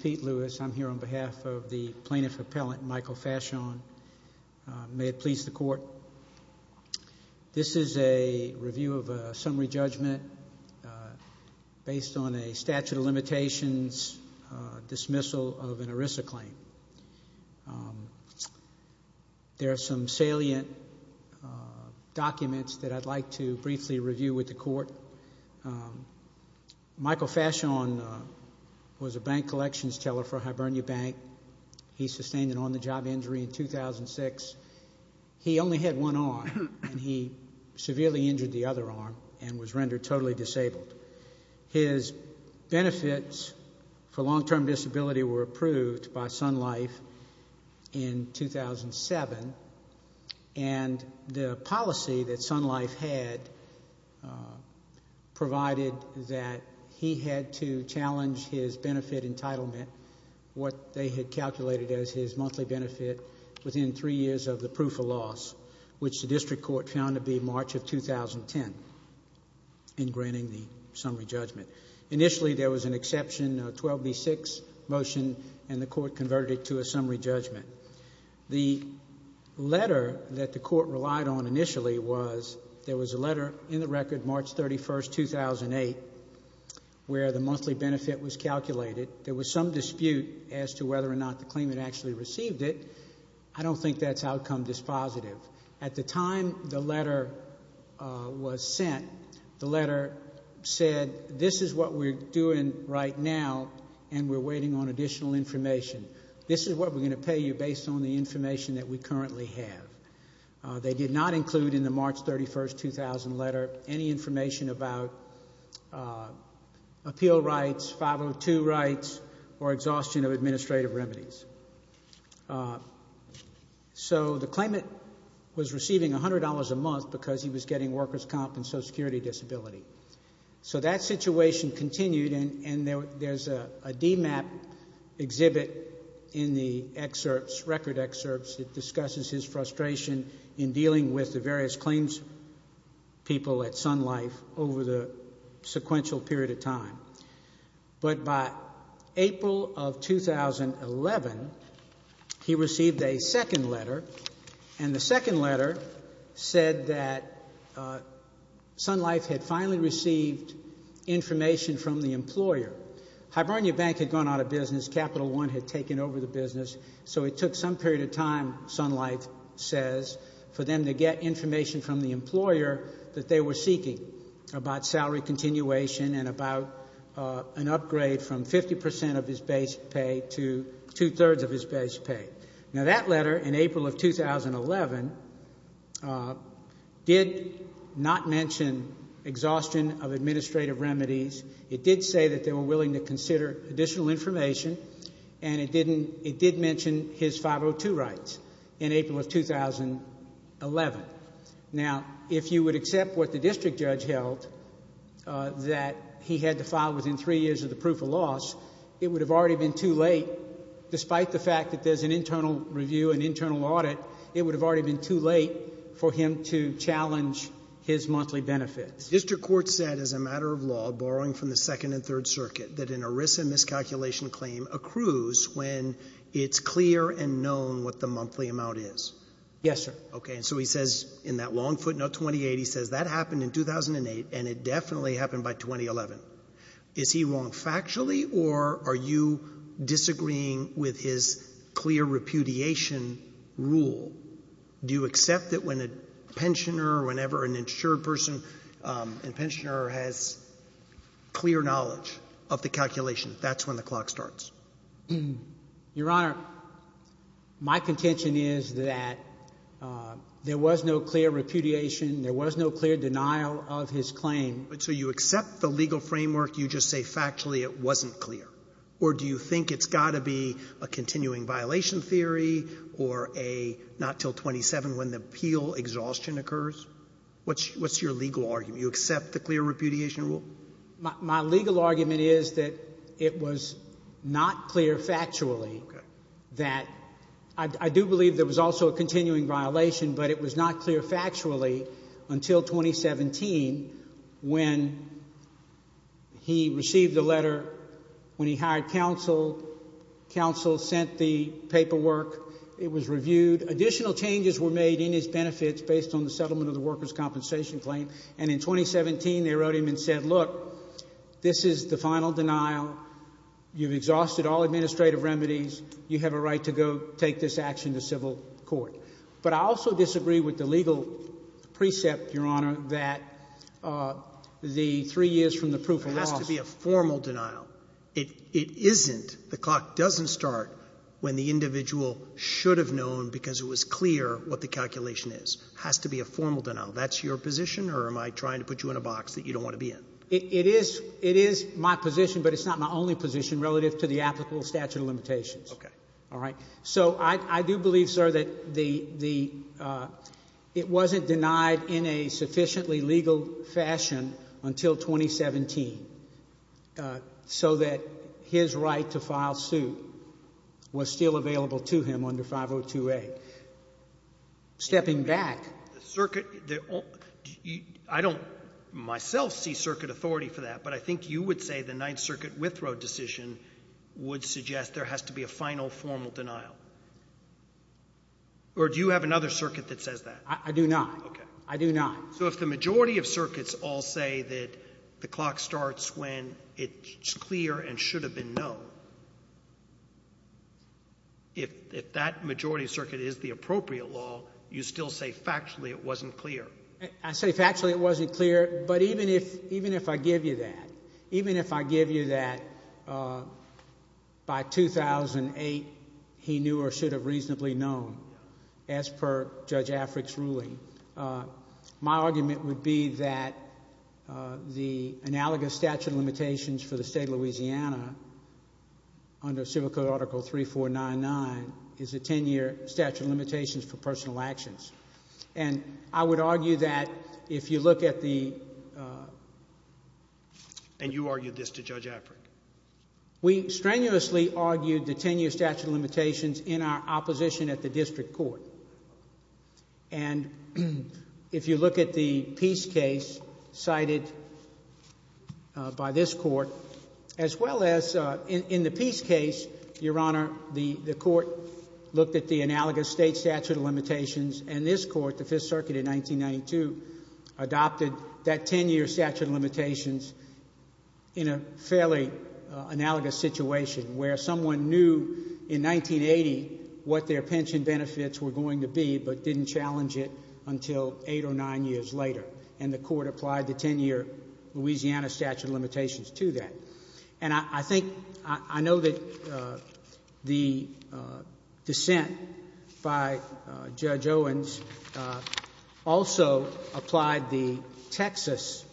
Pete Lewis v. Plaintiff Appellant Michael Faciane v. Sun Life Asuc Co. of Canada There are some salient documents that I'd like to briefly review with the court. Michael Faciane was a bank collections teller for Hibernia Bank. He sustained an on-the-job injury in 2006. He only had one arm and he severely injured the other arm and was rendered totally disabled. His benefits for long-term disability were approved by Sun Life in 2007. And the policy that Sun Life had provided that he had to challenge his benefit entitlement, what they had calculated as his monthly benefit, within three years of the proof of loss, which the district court found to be March of 2010 in granting the summary judgment. Initially, there was an exception, a 12B6 motion, and the court converted it to a summary judgment. The letter that the court relied on initially was there was a letter in the record March 31, 2008, where the monthly benefit was calculated. There was some dispute as to whether or not the claimant actually received it. I don't think that's outcome dispositive. At the time the letter was sent, the letter said, this is what we're doing right now and we're waiting on additional information. This is what we're going to pay you based on the information that we currently have. They did not include in the March 31, 2000 letter any information about appeal rights, 502 rights, or exhaustion of administrative remedies. So the claimant was receiving $100 a month because he was getting worker's comp and social security disability. So that situation continued and there's a DMAP exhibit in the excerpts, record excerpts, that discusses his frustration in dealing with the various claims people at Sun Life over the sequential period of time. But by April of 2011, he received a second letter and the second letter said that Sun Life had finally received information from the employer. Hibernia Bank had gone out of business. Capital One had taken over the business. So it took some period of time, Sun Life says, for them to get information from the employer that they were seeking about salary continuation and about an upgrade from 50% of his base pay to two-thirds of his base pay. Now that letter in April of 2011 did not mention exhaustion of administrative remedies. It did say that they were willing to consider additional information and it did mention his 502 rights in April of 2011. Now, if you would accept what the district judge held, that he had to file within three years of the proof of loss, it would have already been too late, despite the fact that there's an internal review, an internal audit, it would have already been too late for him to challenge his monthly benefits. The district court said, as a matter of law, borrowing from the Second and Third Circuit, that an ERISA miscalculation claim accrues when it's clear and known what the monthly amount is. Yes, sir. Okay. And so he says in that long footnote 28, he says that happened in 2008 and it definitely happened by 2011. Is he wrong factually or are you disagreeing with his clear repudiation rule? Do you accept that when a pensioner, whenever an insured person, a pensioner has clear knowledge of the calculation, that's when the clock starts? Your Honor, my contention is that there was no clear repudiation, there was no clear denial of his claim. So you accept the legal framework, you just say factually it wasn't clear? Or do you think it's got to be a continuing violation theory or a not till 27 when the appeal exhaustion occurs? What's your legal argument? Do you accept the clear repudiation rule? My legal argument is that it was not clear factually that, I do believe there was also a continuing violation, but it was not clear factually until 2017 when he received a letter when he hired counsel, counsel sent the paperwork, it was reviewed, additional changes were made in his benefits based on the settlement of the workers' compensation claim, and in 2017 they wrote him and said, look, this is the final denial, you've exhausted all administrative remedies, you have a right to go take this action to civil court. But I also disagree with the legal precept, Your Honor, that the three years from the proof of loss... It has to be a formal denial. It isn't, the clock doesn't start when the individual should have known because it was clear what the calculation is. It has to be a formal denial. That's your position or am I trying to put you in a box that you don't want to be in? It is my position, but it's not my only position relative to the applicable statute of limitations. Okay. All right. So I do believe, sir, that the, it wasn't denied in a sufficiently legal fashion until 2017 so that his right to file suit was still available to him under 502A. The circuit, I don't myself see circuit authority for that, but I think you would say the Ninth Circuit withdrawal decision would suggest there has to be a final formal denial. Or do you have another circuit that says that? I do not. I do not. So if the majority of circuits all say that the clock starts when it's clear and should have been known, if that majority circuit is the appropriate law, you still say factually it wasn't clear? I say factually it wasn't clear, but even if I give you that, even if I give you that by 2008 he knew or should have reasonably known as per Judge Afric's ruling, my argument would be that the analogous statute of limitations for the State of Louisiana under Civil Code Article 3499 is a 10-year statute of limitations for personal actions. And I would argue that if you look at the... And you argued this to Judge Afric? We strenuously argued the 10-year statute of limitations in our opposition at the district court. And if you look at the peace case cited by this court, as well as in the peace case, Your Honor, the court looked at the analogous state statute of limitations and this court, the Fifth Circuit in 1992, adopted that 10-year statute of limitations in a fairly analogous situation. Where someone knew in 1980 what their pension benefits were going to be, but didn't challenge it until eight or nine years later. And the court applied the 10-year Louisiana statute of limitations to that. And I think, I know that the dissent by Judge Owens also applied the Texas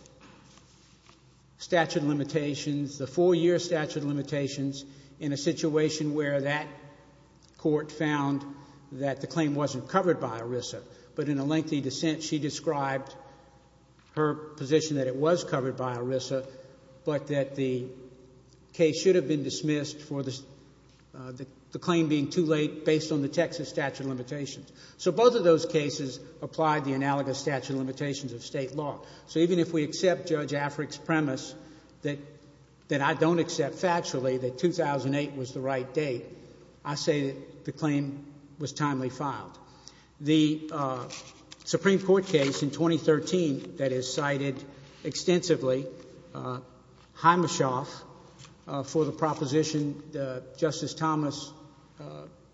statute of limitations, the four-year statute of limitations, in a situation where that court found that the claim wasn't covered by ERISA. But in a lengthy dissent, she described her position that it was covered by ERISA, but that the case should have been dismissed for the claim being too late based on the Texas statute of limitations. So both of those cases applied the analogous statute of limitations of state law. So even if we accept Judge Afric's premise that I don't accept factually that 2008 was the right date, I say the claim was timely filed. The Supreme Court case in 2013 that is cited extensively, Himeshoff, for the proposition that Justice Thomas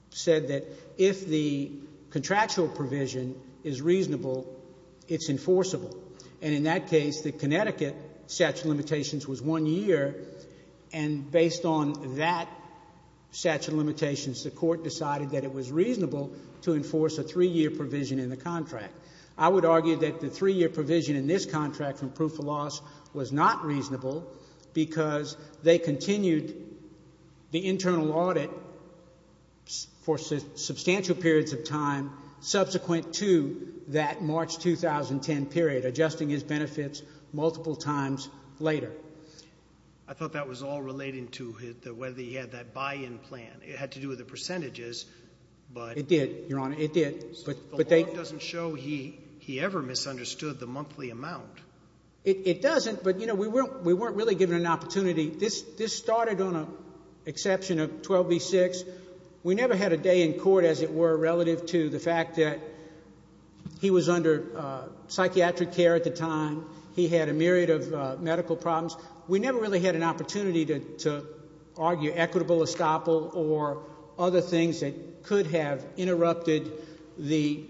said that if the contractual provision is reasonable, it's enforceable. And in that case, the Connecticut statute of limitations was one year, and based on that statute of limitations, the court decided that it was reasonable to enforce a three-year provision in the contract. I would argue that the three-year provision in this contract from proof of loss was not reasonable because they continued the internal audit for substantial periods of time subsequent to that March 2010 period, adjusting his benefits multiple times later. I thought that was all relating to whether he had that buy-in plan. It had to do with the percentages, but… It did, Your Honor. It did. But they… The law doesn't show he ever misunderstood the monthly amount. It doesn't, but, you know, we weren't really given an opportunity. This started on an exception of 12b-6. We never had a day in court, as it were, relative to the fact that he was under psychiatric care at the time. He had a myriad of medical problems. We never really had an opportunity to argue equitable estoppel or other things that could have interrupted the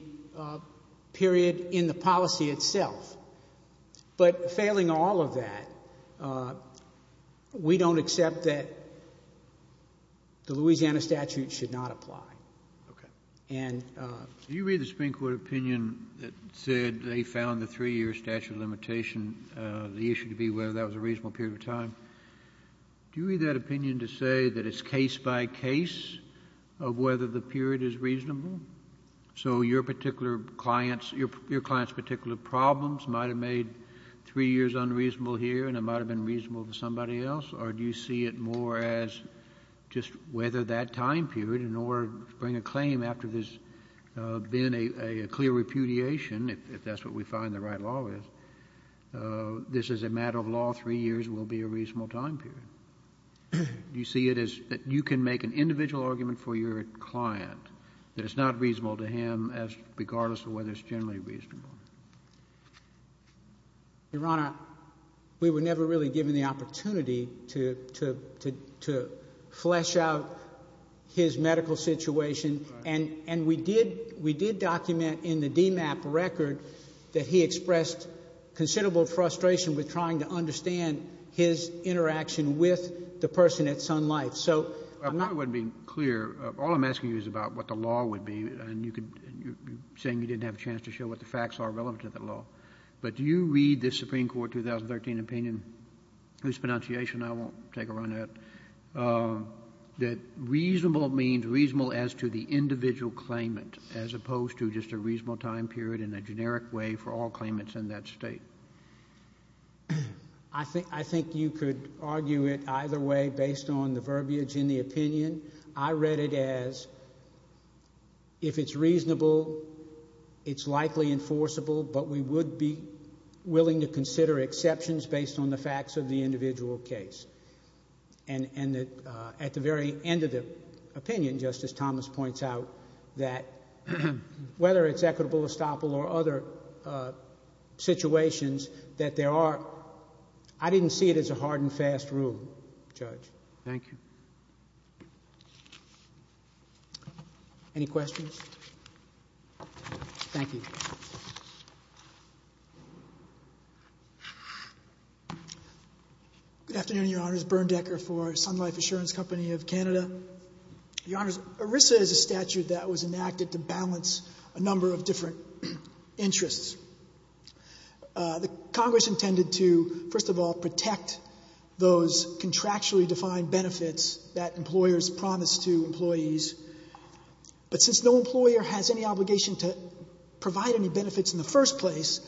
period in the policy itself. But failing all of that, we don't accept that the Louisiana statute should not apply. Okay. And… Do you read the Supreme Court opinion that said they found the 3-year statute of limitation, the issue to be whether that was a reasonable period of time? Do you read that opinion to say that it's case by case of whether the period is reasonable? So your particular client's, your client's particular problems might have made 3 years unreasonable here and it might have been reasonable for somebody else? Or do you see it more as just whether that time period in order to bring a claim after there's been a clear repudiation, if that's what we find the right law is, this is a matter of law, 3 years will be a reasonable time period? Do you see it as that you can make an individual argument for your client that it's not reasonable to him as regardless of whether it's generally reasonable? Your Honor, we were never really given the opportunity to flesh out his medical situation. And we did document in the DMAP record that he expressed considerable frustration with trying to understand his interaction with the person at Sun Life. I probably wouldn't be clear. All I'm asking you is about what the law would be. And you're saying you didn't have a chance to show what the facts are relevant to the law. But do you read the Supreme Court 2013 opinion, whose pronunciation I won't take a run at, that reasonable means reasonable as to the individual claimant as opposed to just a reasonable time period in a generic way for all claimants in that State? I think you could argue it either way based on the verbiage in the opinion. I read it as if it's reasonable, it's likely enforceable, but we would be willing to consider exceptions based on the facts of the individual case. And at the very end of the opinion, Justice Thomas points out that whether it's equitable estoppel or other situations, that there are – I didn't see it as a hard and fast rule, Judge. Thank you. Any questions? Thank you. Good afternoon, Your Honor. It's Bernd Decker for Sun Life Assurance Company of Canada. Your Honor, ERISA is a statute that was enacted to balance a number of different interests. The Congress intended to, first of all, protect those contractually defined benefits that employers promise to employees. But since no employer has any obligation to provide any benefits in the first place,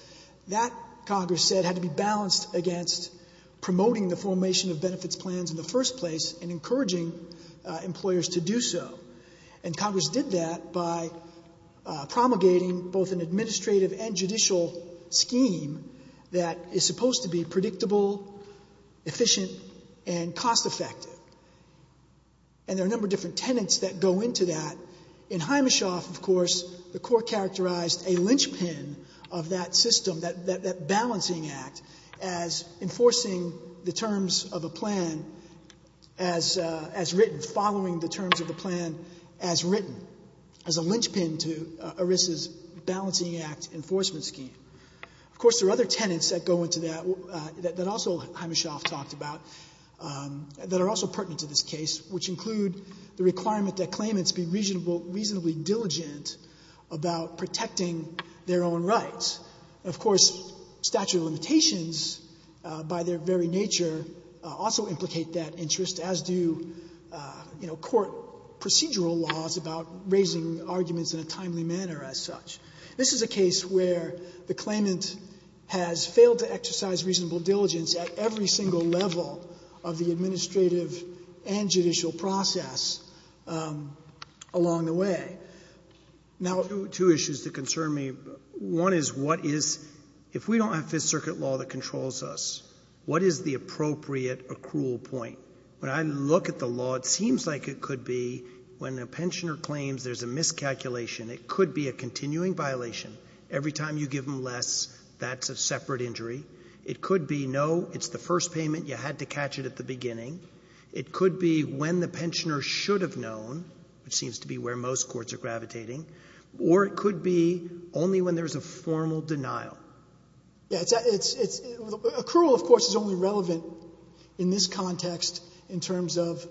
that, Congress said, had to be balanced against promoting the formation of benefits plans in the first place and encouraging employers to do so. And Congress did that by promulgating both an administrative and judicial scheme that is supposed to be predictable, efficient, and cost effective. And there are a number of different tenets that go into that. In Himeshoff, of course, the court characterized a linchpin of that system, that balancing act, as enforcing the terms of a plan as written, following the terms of the plan as written, as a linchpin to ERISA's balancing act enforcement scheme. Of course, there are other tenets that go into that, that also Himeshoff talked about, that are also pertinent to this case, which include the requirement that claimants be reasonably diligent about protecting their own rights. Of course, statute of limitations, by their very nature, also implicate that interest, as do court procedural laws about raising arguments in a timely manner, as such. This is a case where the claimant has failed to exercise reasonable diligence at every single level of the administrative and judicial process along the way. Now — Two issues that concern me. One is what is — if we don't have Fifth Circuit law that controls us, what is the appropriate accrual point? When I look at the law, it seems like it could be when a pensioner claims there's a miscalculation, it could be a continuing violation. Every time you give them less, that's a separate injury. It could be, no, it's the first payment, you had to catch it at the beginning. It could be when the pensioner should have known, which seems to be where most courts are gravitating. Or it could be only when there's a formal denial. Yeah. It's — accrual, of course, is only relevant in this context in terms of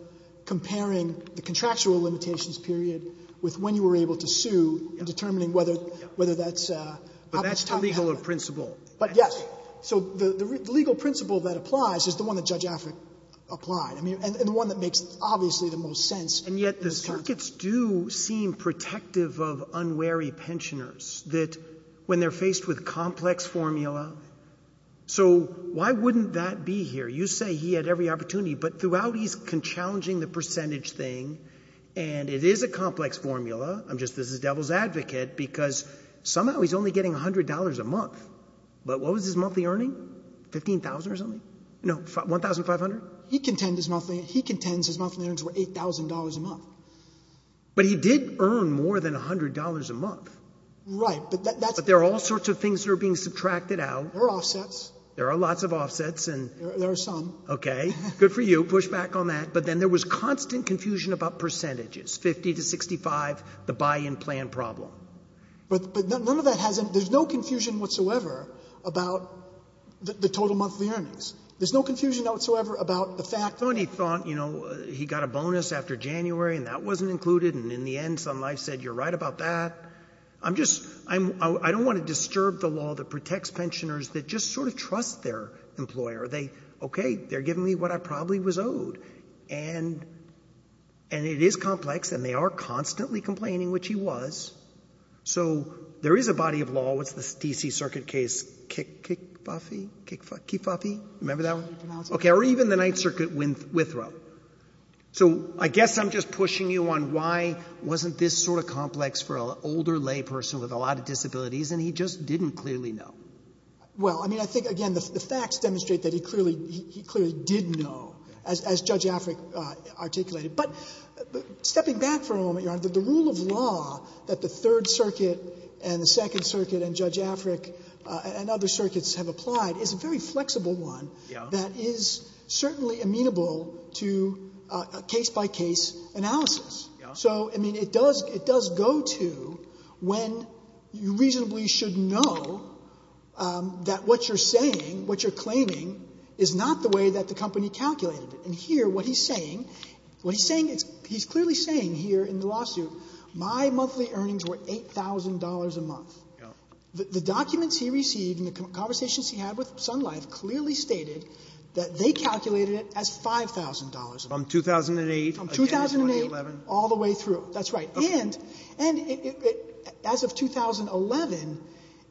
comparing the contractual limitations period with when you were able to sue and determining whether that's how much time you have. But that's the legal principle. But, yes. So the legal principle that applies is the one that Judge Affrick applied, and the one that makes, obviously, the most sense in this context. Advocates do seem protective of unwary pensioners, that when they're faced with complex formula — so why wouldn't that be here? You say he had every opportunity, but throughout he's challenging the percentage thing, and it is a complex formula. I'm just — this is devil's advocate, because somehow he's only getting $100 a month. But what was his monthly earning? $15,000 or something? No, $1,500? He contends his monthly — he contends his monthly earnings were $8,000 a month. But he did earn more than $100 a month. Right. But that's — But there are all sorts of things that are being subtracted out. There are offsets. There are lots of offsets, and — There are some. Okay. Good for you. Push back on that. But then there was constant confusion about percentages, 50 to 65, the buy-in plan problem. But none of that has — there's no confusion whatsoever about the total monthly earnings. There's no confusion whatsoever about the fact — And he thought, you know, he got a bonus after January, and that wasn't included. And in the end, Sun Life said, you're right about that. I'm just — I don't want to disturb the law that protects pensioners that just sort of trust their employer. They — okay, they're giving me what I probably was owed. And it is complex, and they are constantly complaining, which he was. So there is a body of law. What's the D.C. Circuit case? Kifafi? Kifafi? Remember that one? Okay. Or even the Ninth Circuit, Withrow. So I guess I'm just pushing you on why wasn't this sort of complex for an older layperson with a lot of disabilities, and he just didn't clearly know. Well, I mean, I think, again, the facts demonstrate that he clearly — he clearly did know, as Judge Afric articulated. But stepping back for a moment, Your Honor, the rule of law that the Third Circuit and the Second Circuit and Judge Afric and other circuits have applied is a very flexible one that is certainly amenable to a case-by-case analysis. So, I mean, it does go to when you reasonably should know that what you're saying, what you're claiming, is not the way that the company calculated it. And here, what he's saying — what he's saying — he's clearly saying here in the The documents he received and the conversations he had with Sun Life clearly stated that they calculated it as $5,000 a month. From 2008? From 2008 all the way through. That's right. Okay. And as of 2011,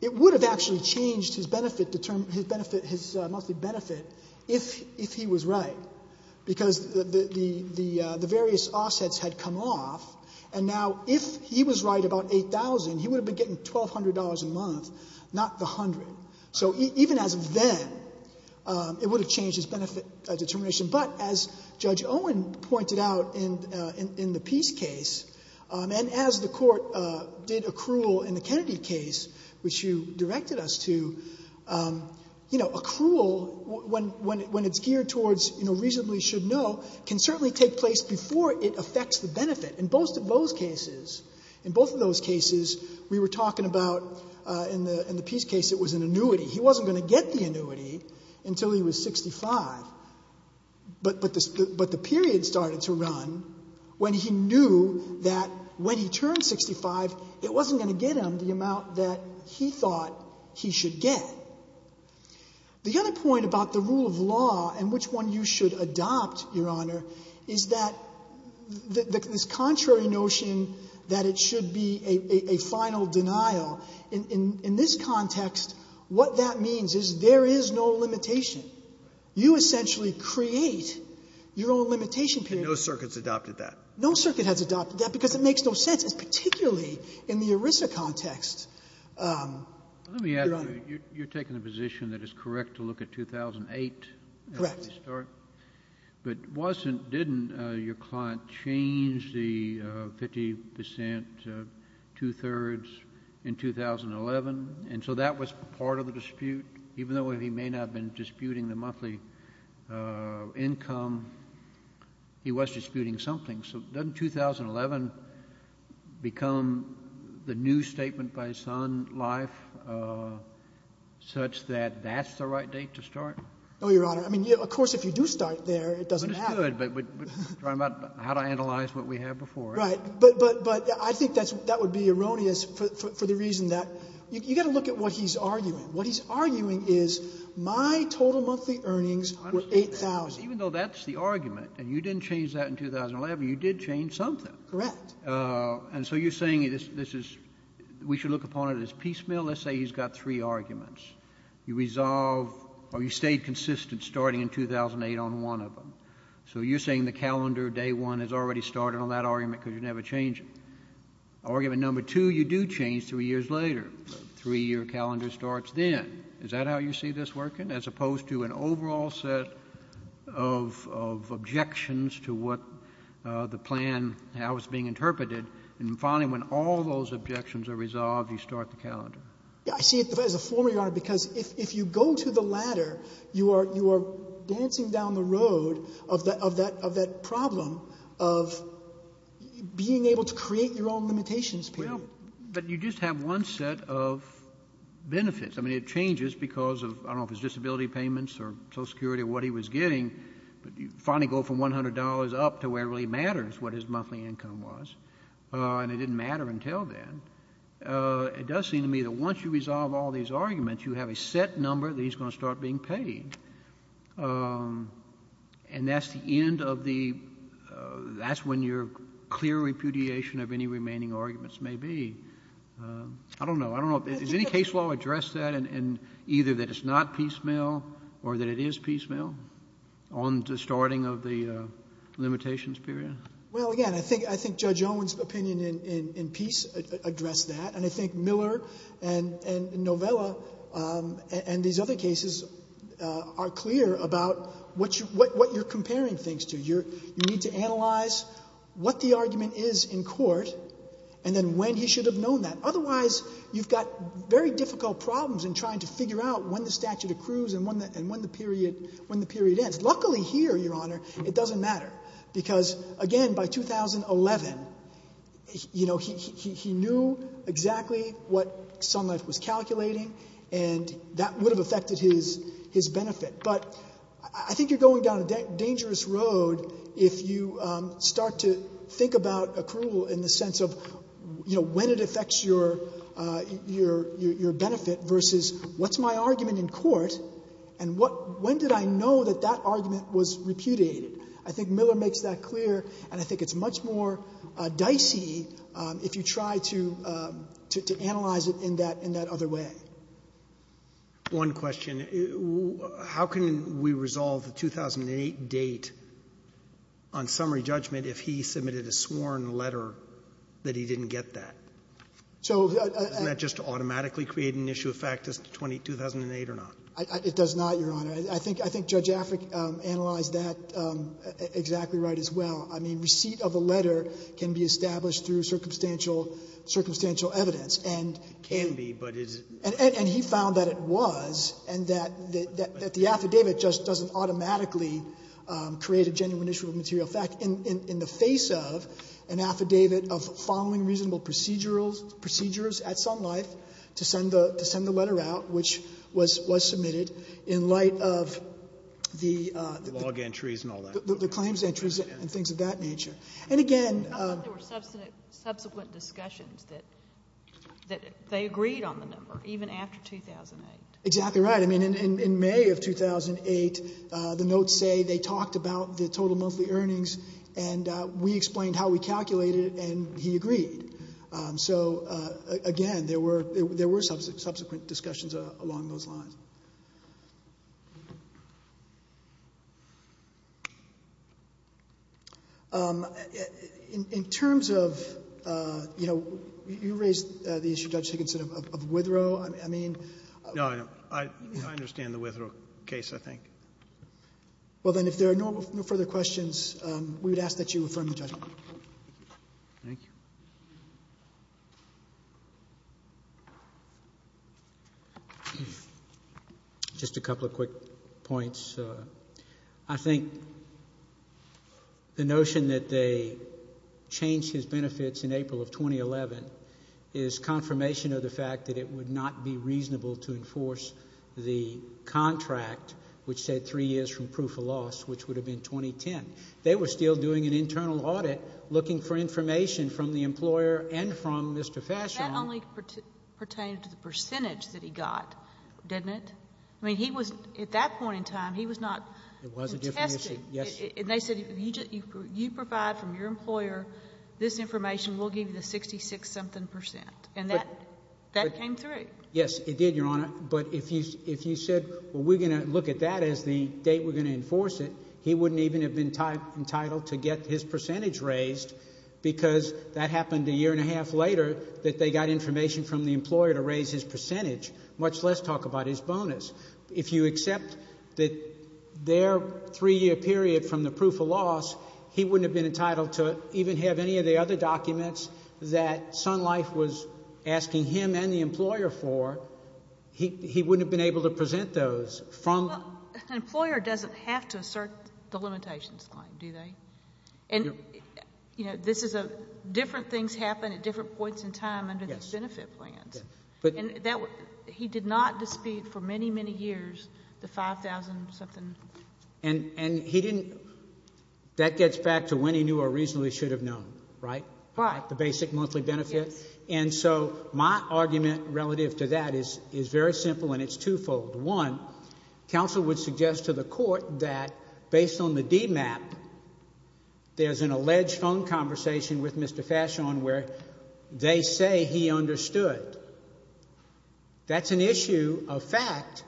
it would have actually changed his benefit — his monthly benefit if he was right, because the various offsets had come off. And now, if he was right about $8,000, he would have been getting $1,200 a month, not the $100. So even as of then, it would have changed his benefit determination. But as Judge Owen pointed out in the Peace case, and as the Court did accrual in the Kennedy case, which you directed us to, you know, accrual, when it's geared towards, you know, reasonably should know, can certainly take place before it affects the benefit. In both of those cases, in both of those cases, we were talking about — in the Peace case, it was an annuity. He wasn't going to get the annuity until he was 65. But the period started to run when he knew that when he turned 65, it wasn't going to get him the amount that he thought he should get. The other point about the rule of law and which one you should adopt, Your Honor, is that this contrary notion that it should be a final denial, in this context, what that means is there is no limitation. You essentially create your own limitation period. And no circuit's adopted that. No circuit has adopted that because it makes no sense. It's particularly in the ERISA context, Your Honor. Let me ask you. You're taking a position that is correct to look at 2008. Correct. But wasn't — didn't your client change the 50 percent, two-thirds in 2011? And so that was part of the dispute. Even though he may not have been disputing the monthly income, he was disputing something. So doesn't 2011 become the new statement by his son, life, such that that's the right date to start? No, Your Honor. I mean, of course, if you do start there, it doesn't matter. But it's good. We're talking about how to analyze what we had before. Right. But I think that would be erroneous for the reason that you've got to look at what he's arguing. What he's arguing is my total monthly earnings were $8,000. Even though that's the argument, and you didn't change that in 2011, you did change something. Correct. And so you're saying this is — we should look upon it as piecemeal. Let's say he's got three arguments. You resolve — or you stayed consistent starting in 2008 on one of them. So you're saying the calendar, day one, has already started on that argument because you never change it. Argument number two, you do change three years later. Three-year calendar starts then. Is that how you see this working, as opposed to an overall set of — of objections to what the plan — how it's being interpreted? And finally, when all those objections are resolved, you start the calendar. I see it as a former, Your Honor, because if you go to the latter, you are — you are dancing down the road of that — of that — of that problem of being able to create your own limitations, Peter. Well, but you just have one set of benefits. I mean, it changes because of — I don't know if it's disability payments or Social Security or what he was getting, but you finally go from $100 up to where it really matters what his monthly income was, and it didn't matter until then. But it does seem to me that once you resolve all these arguments, you have a set number that he's going to start being paid. And that's the end of the — that's when your clear repudiation of any remaining arguments may be. I don't know. I don't know. Does any case law address that, and — and either that it's not piecemeal or that it is piecemeal on the starting of the limitations period? Well, again, I think — I think Judge Owen's opinion in — in — in peace addressed that, and I think Miller and — and Novella and these other cases are clear about what you — what you're comparing things to. You're — you need to analyze what the argument is in court and then when he should have known that. Otherwise, you've got very difficult problems in trying to figure out when the statute accrues and when the — and when the period — when the period ends. Luckily here, Your Honor, it doesn't matter because, again, by 2011, you know, he — he — he knew exactly what Sun Life was calculating and that would have affected his — his benefit. But I think you're going down a dangerous road if you start to think about accrual in the sense of, you know, when it affects your — your — your benefit versus what's my argument in court and what — when did I know that that argument was repudiated. I think Miller makes that clear, and I think it's much more dicey if you try to — to analyze it in that — in that other way. One question. How can we resolve the 2008 date on summary judgment if he submitted a sworn letter that he didn't get that? So — Doesn't that just automatically create an issue of fact as to 2008 or not? It does not, Your Honor. I think — I think Judge Affleck analyzed that exactly right as well. I mean, receipt of a letter can be established through circumstantial — circumstantial evidence, and — It can be, but it's — And he found that it was, and that — that the affidavit just doesn't automatically create a genuine issue of material fact. In the face of an affidavit of following reasonable procedurals — procedures at some life to send the — to send the letter out, which was — was submitted in light of the — Log entries and all that. The claims entries and things of that nature. And again — I thought there were subsequent discussions that — that they agreed on the number even after 2008. Exactly right. I mean, in — in May of 2008, the notes say they talked about the total monthly earnings, and we explained how we calculated it, and he agreed. So again, there were — there were subsequent discussions along those lines. In terms of, you know, you raised the issue, Judge Higginson, of — of Withrow. I mean — No, I don't. I understand the Withrow case, I think. Well, then, if there are no further questions, we would ask that you affirm the judgment. Thank you. Just a couple of quick points. I think the notion that they changed his benefits in April of 2011 is confirmation of the fact that it would not be reasonable to enforce the contract, which said three years from proof of loss, which would have been 2010. They were still doing an internal audit, looking for information from the employer and from Mr. Fashion. That only pertained to the percentage that he got, didn't it? I mean, he was — at that point in time, he was not — It was a different issue. Yes. And they said, you provide from your employer this information, we'll give you the 66-something percent. And that — that came through. Yes, it did, Your Honor. But if you — if you said, well, we're going to look at that as the date we're going to enforce it, he wouldn't even have been entitled to get his percentage raised because that happened a year and a half later that they got information from the employer to raise his percentage, much less talk about his bonus. If you accept that their three-year period from the proof of loss, he wouldn't have been and the employer for, he wouldn't have been able to present those from — Well, an employer doesn't have to assert the limitations claim, do they? And, you know, this is a — different things happen at different points in time under these benefit plans. Yes. But — And that — he did not dispute for many, many years the 5,000-something — And he didn't — that gets back to when he knew or reasonably should have known, right? Right. The basic monthly benefit? Yes. And so my argument relative to that is very simple, and it's twofold. One, counsel would suggest to the court that, based on the DMAP, there's an alleged phone conversation with Mr. Fashion where they say he understood. That's an issue of fact.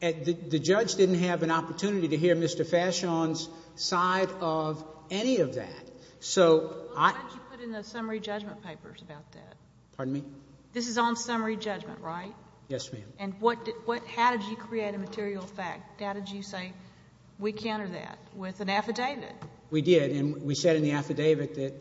The judge didn't have an opportunity to hear Mr. Fashion's side of any of that. So I — Well, when did you put in the summary judgment papers about that? Pardon me? This is on summary judgment, right? Yes, ma'am. And what — how did you create a material fact? How did you say, we counter that with an affidavit? We did. And we said in the affidavit that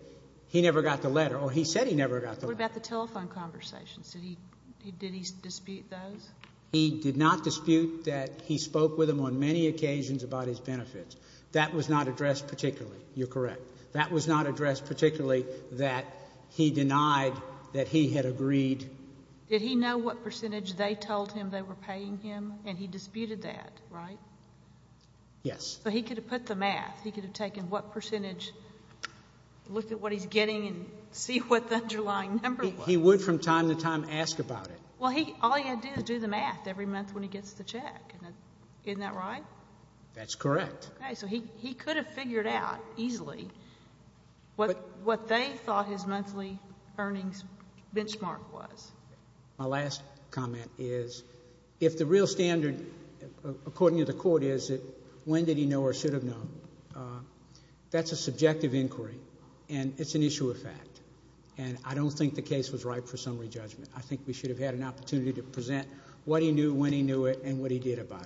he never got the letter, or he said he never got the letter. What about the telephone conversations? Did he dispute those? He did not dispute that he spoke with him on many occasions about his benefits. That was not addressed particularly. You're correct. That was not addressed particularly that he denied that he had agreed — Did he know what percentage they told him they were paying him, and he disputed that, right? Yes. So he could have put the math. He could have taken what percentage, looked at what he's getting, and see what the underlying number was. He would, from time to time, ask about it. Well, all he had to do is do the math every month when he gets the check. Isn't that right? That's correct. Okay, so he could have figured out easily what they thought his monthly earnings benchmark was. My last comment is, if the real standard, according to the court, is when did he know or should have known, that's a subjective inquiry, and it's an issue of fact. And I don't think the case was ripe for summary judgment. I think we should have had an opportunity to present what he knew, when he knew it, and what he did about it. Thank you.